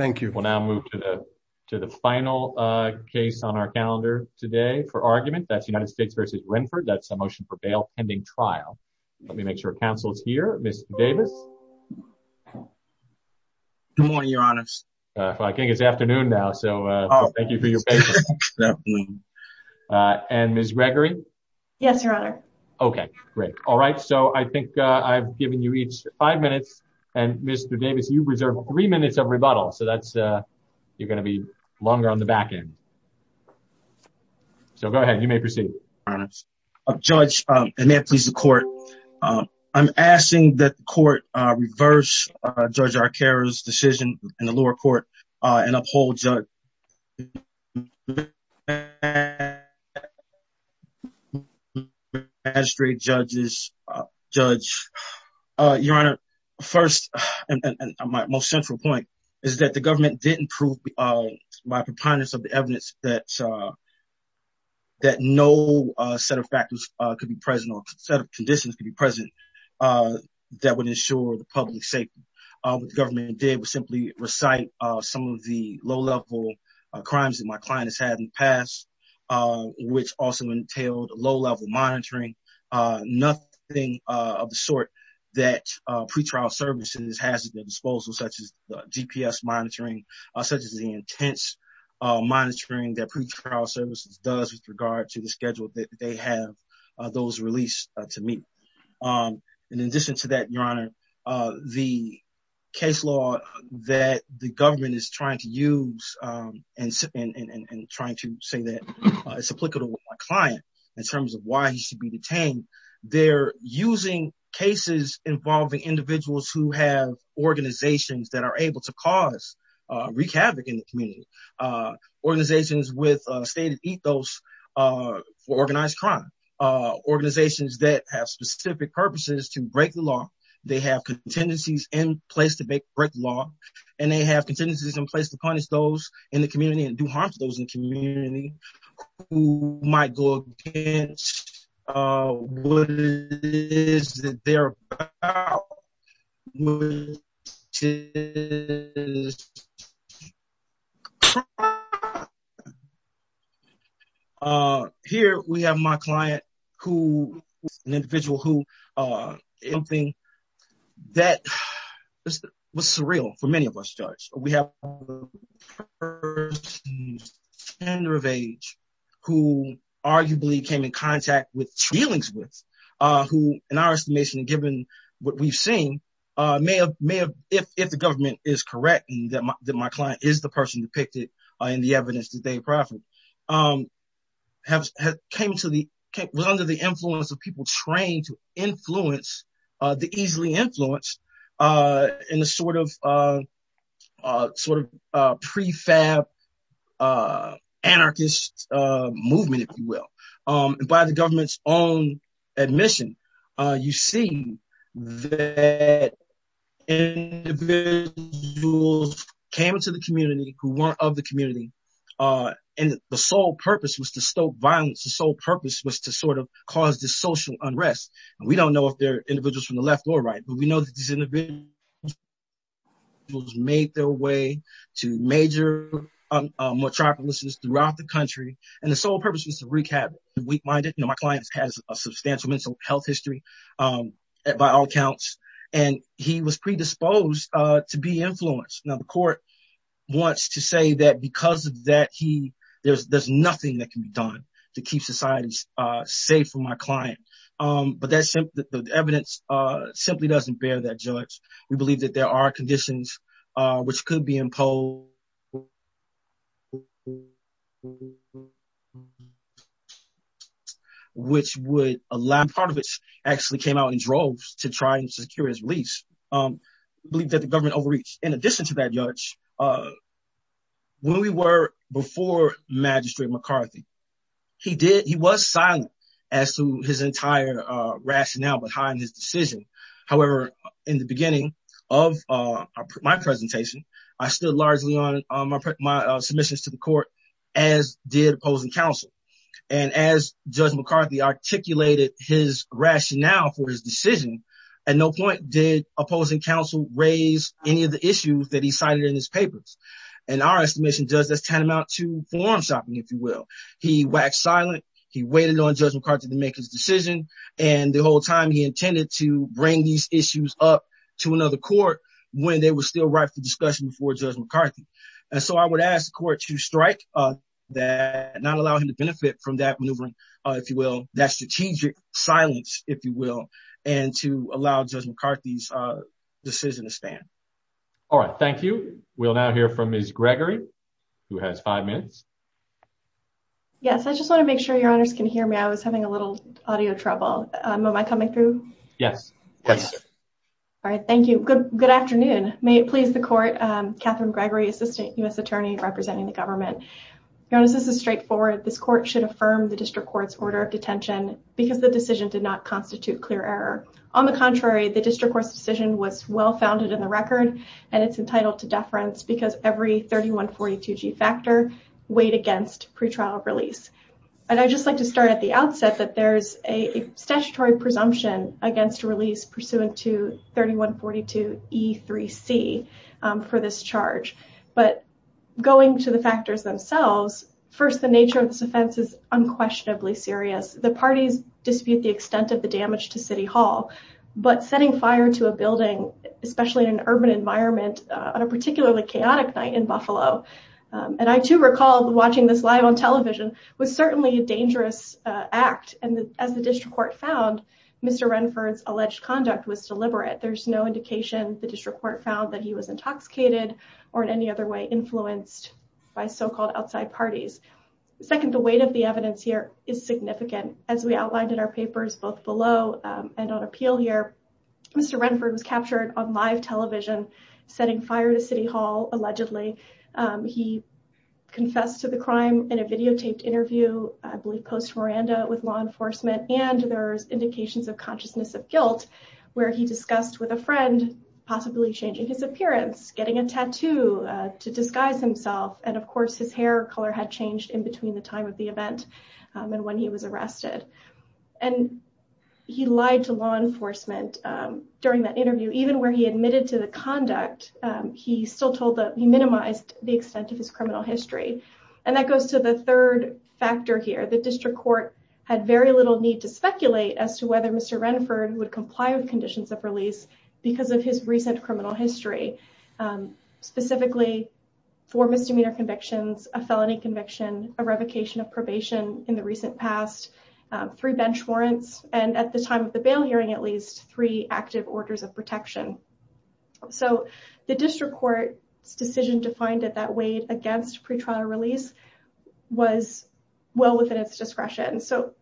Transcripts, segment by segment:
Thank you. We'll now move to the to the final case on our calendar today for argument. That's United States v. Renford. That's a motion for bail pending trial. Let me make sure counsel is here. Ms. Davis. Good morning, Your Honors. I think it's afternoon now so thank you for your patience. And Ms. Gregory. Yes, Your Honor. Okay, great. All right, so I think I've given you each five minutes and Mr. Davis you reserve three minutes of rebuttal so that's you're going to be longer on the back end. So go ahead, you may proceed. Judge, and may it please the court. I'm asking that the court reverse Judge Arcaro's decision in the lower court and uphold Judge Magistrate, judges, judge. Your Honor. First, and my most central point is that the government didn't prove by preponderance of the evidence that that no set of factors could be present or set of conditions could be present. That would ensure the public safety of the government did was simply recite some of the low level crimes that my client has had in the past, which also entailed low level monitoring, nothing of the sort that pretrial services has at their disposal, such as DPS monitoring, such as the intense monitoring that pretrial services does with regard to the schedule that they have those released to me. In addition to that, Your Honor, the case law that the government is trying to use and and trying to say that it's applicable client in terms of why he should be detained. They're using cases involving individuals who have organizations that are able to cause wreak havoc in the community organizations with stated ethos for organized crime organizations that have specific purposes to break the law. They have contingencies in place to break the law and they have contingencies in place to punish those in the community and do harm to those in the community who might go against what it is that they're about. Here we have my client who was an individual who did something that was surreal for many of us, Judge. We have a person of gender of age who arguably came in contact with feelings with who, in our estimation, given what we've seen may have may have if the government is correct and that my client is the person depicted in the evidence that they profit have came to the under the influence of people trained to influence the easily influenced in the sort of sort of prefab anarchist movement, if you will, by the government's own admission. You see that individuals came into the community who weren't of the community and the sole purpose was to stoke violence. The sole purpose was to sort of cause the social unrest. And we don't know if they're individuals from the left or right, but we know that these individuals made their way to major metropolises throughout the country. And the sole purpose was to recap weak minded. My client has a substantial mental health history by all accounts, and he was predisposed to be influenced. Now, the court wants to say that because of that, he there's there's nothing that can be done to keep societies safe for my client. But that's the evidence simply doesn't bear that judge. We believe that there are conditions which could be imposed. Which would allow part of it actually came out in droves to try and secure his release. We believe that the government overreach in addition to that judge. When we were before Magistrate McCarthy, he did. He was silent as to his entire rationale behind his decision. However, in the beginning of my presentation, I stood largely on my submissions to the court, as did opposing counsel. And as Judge McCarthy articulated his rationale for his decision, at no point did opposing counsel raise any of the issues that he cited in his papers. And our estimation does this tantamount to form shopping, if you will. He waxed silent. He waited on Judge McCarthy to make his decision. And the whole time he intended to bring these issues up to another court when they were still right for discussion before Judge McCarthy. And so I would ask the court to strike that and not allow him to benefit from that maneuvering, if you will, that strategic silence, if you will. And to allow Judge McCarthy's decision to stand. All right. Thank you. We'll now hear from Ms. Gregory, who has five minutes. Yes, I just want to make sure your honors can hear me. I was having a little audio trouble. Am I coming through? Yes. All right. Thank you. Good. Good afternoon. May it please the court. Catherine Gregory, assistant U.S. attorney representing the government. This is straightforward. This court should affirm the district court's order of detention because the decision did not constitute clear error. On the contrary, the district court's decision was well-founded in the record. And it's entitled to deference because every 3142G factor weighed against pretrial release. And I just like to start at the outset that there is a statutory presumption against release pursuant to 3142E3C for this charge. But going to the factors themselves. First, the nature of this offense is unquestionably serious. The parties dispute the extent of the damage to City Hall, but setting fire to a building, especially in an urban environment on a particularly chaotic night in Buffalo. And I, too, recall watching this live on television was certainly a dangerous act. And as the district court found, Mr. Renford's alleged conduct was deliberate. There's no indication the district court found that he was intoxicated or in any other way influenced by so-called outside parties. Second, the weight of the evidence here is significant. As we outlined in our papers, both below and on appeal here, Mr. Renford was captured on live television setting fire to City Hall. Allegedly, he confessed to the crime in a videotaped interview, I believe post-Miranda with law enforcement. And there's indications of consciousness of guilt where he discussed with a friend, possibly changing his appearance, getting a tattoo to disguise himself. And, of course, his hair color had changed in between the time of the event and when he was arrested. And he lied to law enforcement during that interview, even where he admitted to the conduct. He still told that he minimized the extent of his criminal history. And that goes to the third factor here. The district court had very little need to speculate as to whether Mr. Renford would comply with conditions of release because of his recent criminal history. Specifically, four misdemeanor convictions, a felony conviction, a revocation of probation in the recent past, three bench warrants and at the time of the bail hearing, at least three active orders of protection. So the district court's decision to find it that weighed against pre-trial release was well within its discretion. So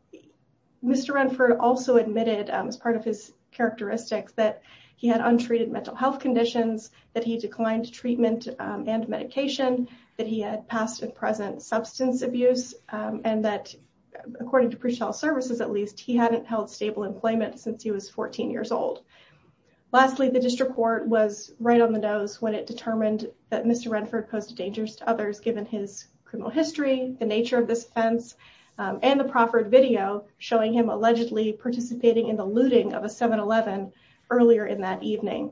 Mr. Renford also admitted as part of his characteristics that he had untreated mental health conditions, that he declined treatment and medication, that he had past and present substance abuse, and that according to pre-trial services, at least, he hadn't held stable employment since he was 14 years old. Lastly, the district court was right on the nose when it determined that Mr. showing him allegedly participating in the looting of a 7-11 earlier in that evening.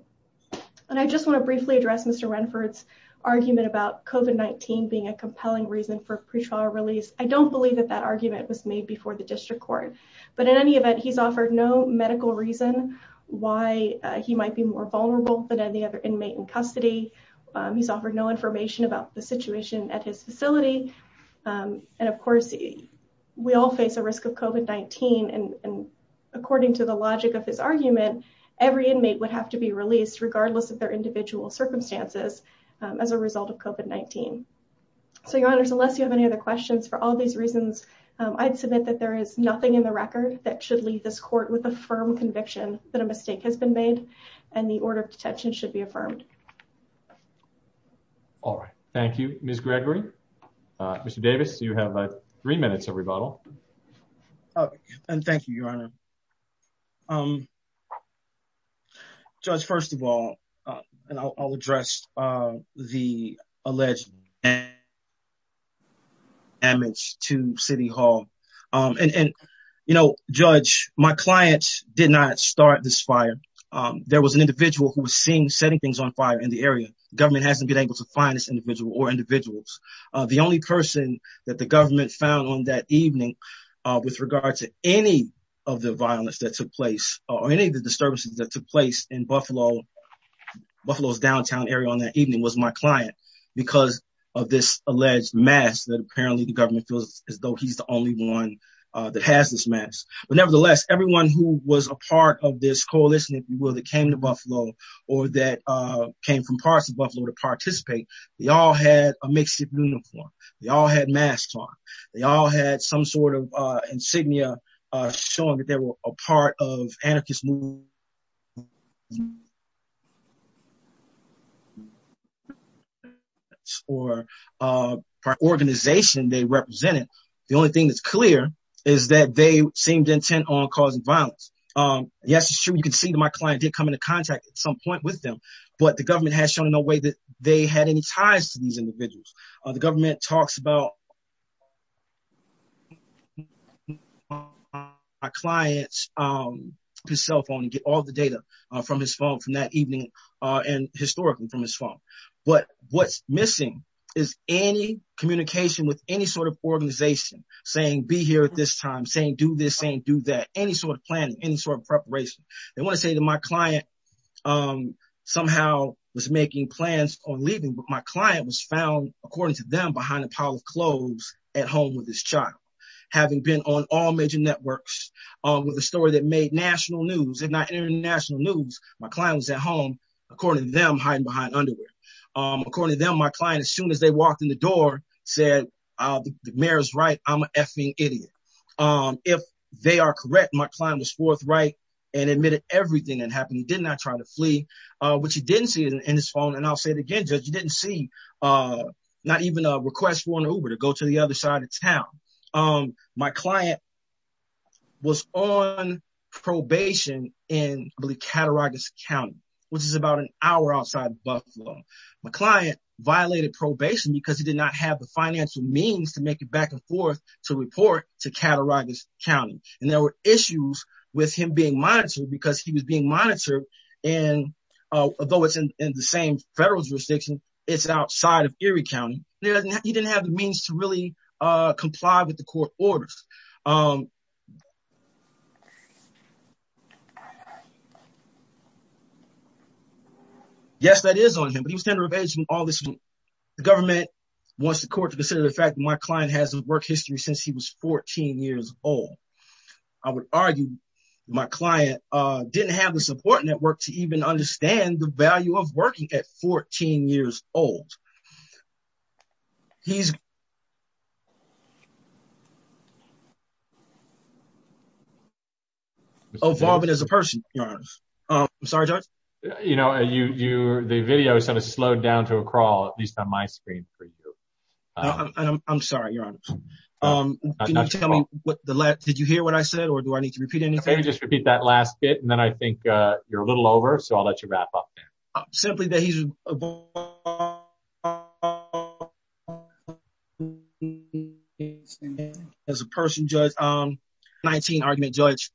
And I just want to briefly address Mr. Renford's argument about COVID-19 being a compelling reason for pre-trial release. I don't believe that that argument was made before the district court. But in any event, he's offered no medical reason why he might be more vulnerable than any other inmate in custody. He's offered no information about the situation at his facility. And of course, we all face a risk of COVID-19. And according to the logic of his argument, every inmate would have to be released, regardless of their individual circumstances, as a result of COVID-19. So, Your Honors, unless you have any other questions, for all these reasons, I'd submit that there is nothing in the record that should leave this court with a firm conviction that a mistake has been made and the order of detention should be affirmed. All right. Thank you, Ms. Gregory. Mr. Davis, you have three minutes of rebuttal. And thank you, Your Honor. Judge, first of all, I'll address the alleged damage to City Hall. And, you know, Judge, my client did not start this fire. There was an individual who was seen setting things on fire in the area. Government hasn't been able to find this individual or individuals. The only person that the government found on that evening with regard to any of the violence that took place, or any of the disturbances that took place in Buffalo, Buffalo's downtown area on that evening, was my client because of this alleged mass that apparently the government feels as though he's the only one that has this mass. But nevertheless, everyone who was a part of this coalition, if you will, that came to Buffalo or that came from parts of Buffalo to participate, they all had a mixed uniform. They all had masks on. They all had some sort of insignia showing that they were a part of anarchist movement. Or an organization they represented. The only thing that's clear is that they seemed intent on causing violence. Yes, it's true. You can see that my client did come into contact at some point with them. But the government has shown no way that they had any ties to these individuals. The government talks about my client's cell phone and get all the data from his phone from that evening and historically from his phone. But what's missing is any communication with any sort of organization saying be here at this time, saying do this, saying do that. Any sort of planning, any sort of preparation. They want to say to my client somehow was making plans on leaving. But my client was found, according to them, behind a pile of clothes at home with his child. Having been on all major networks with a story that made national news and not international news. My client was at home, according to them, hiding behind underwear. According to them, my client, as soon as they walked in the door, said the mayor's right. I'm an effing idiot. If they are correct. My client was forthright and admitted everything that happened. Did not try to flee, which he didn't see in his phone. And I'll say it again. You didn't see not even a request for an Uber to go to the other side of town. My client was on probation in the Cattaraugus County, which is about an hour outside of Buffalo. My client violated probation because he did not have the financial means to make it back and forth to report to Cattaraugus County. And there were issues with him being monitored because he was being monitored. And although it's in the same federal jurisdiction, it's outside of Erie County. He didn't have the means to really comply with the court orders. Yes, that is on him, but he was tender of age and all this. The government wants the court to consider the fact that my client has a work history since he was 14 years old. I would argue my client didn't have the support network to even understand the value of working at 14 years old. He's. Oh, Bob, it is a person. I'm sorry. You know, you the video sort of slowed down to a crawl, at least on my screen for you. I'm sorry. You're on. Tell me what the last. Did you hear what I said or do I need to repeat anything? Just repeat that last bit. And then I think you're a little over. So I'll let you wrap up simply that he's. As a person, just 19 argument judge.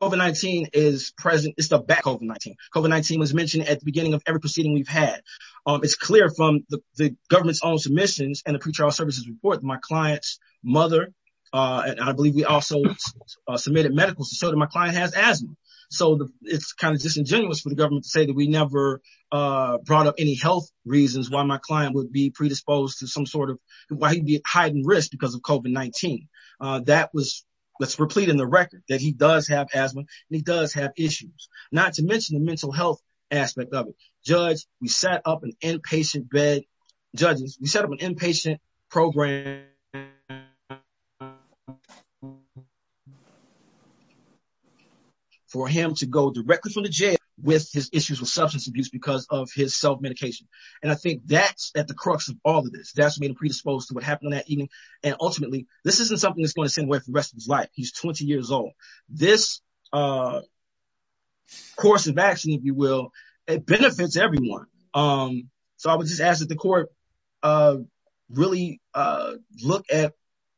Over 19 is present. It's the back over 19. COVID-19 was mentioned at the beginning of every proceeding we've had. It's clear from the government's own submissions and the pretrial services report. My client's mother. I believe we also submitted medical. So my client has asthma. So it's kind of disingenuous for the government to say that we never brought up any health reasons. Why my client would be predisposed to some sort of why he'd be at heightened risk because of COVID-19. That was that's replete in the record that he does have asthma and he does have issues. Not to mention the mental health aspect of it. Judge, we set up an inpatient bed. Judges, we set up an inpatient program. For him to go directly from the jail with his issues with substance abuse because of his self medication. And I think that's at the crux of all of this. That's me to predispose to what happened that evening. And ultimately, this isn't something that's going to send away the rest of his life. He's 20 years old. This course of action, if you will, it benefits everyone. So I would just ask that the court really look at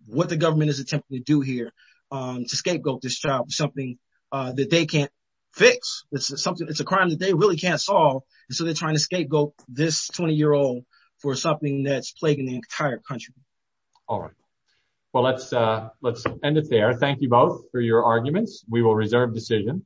what the government is attempting to do here to scapegoat this child. Something that they can't fix. It's something it's a crime that they really can't solve. So they're trying to scapegoat this 20 year old for something that's plaguing the entire country. All right. Well, let's let's end it there. Thank you both for your arguments. We will reserve decision.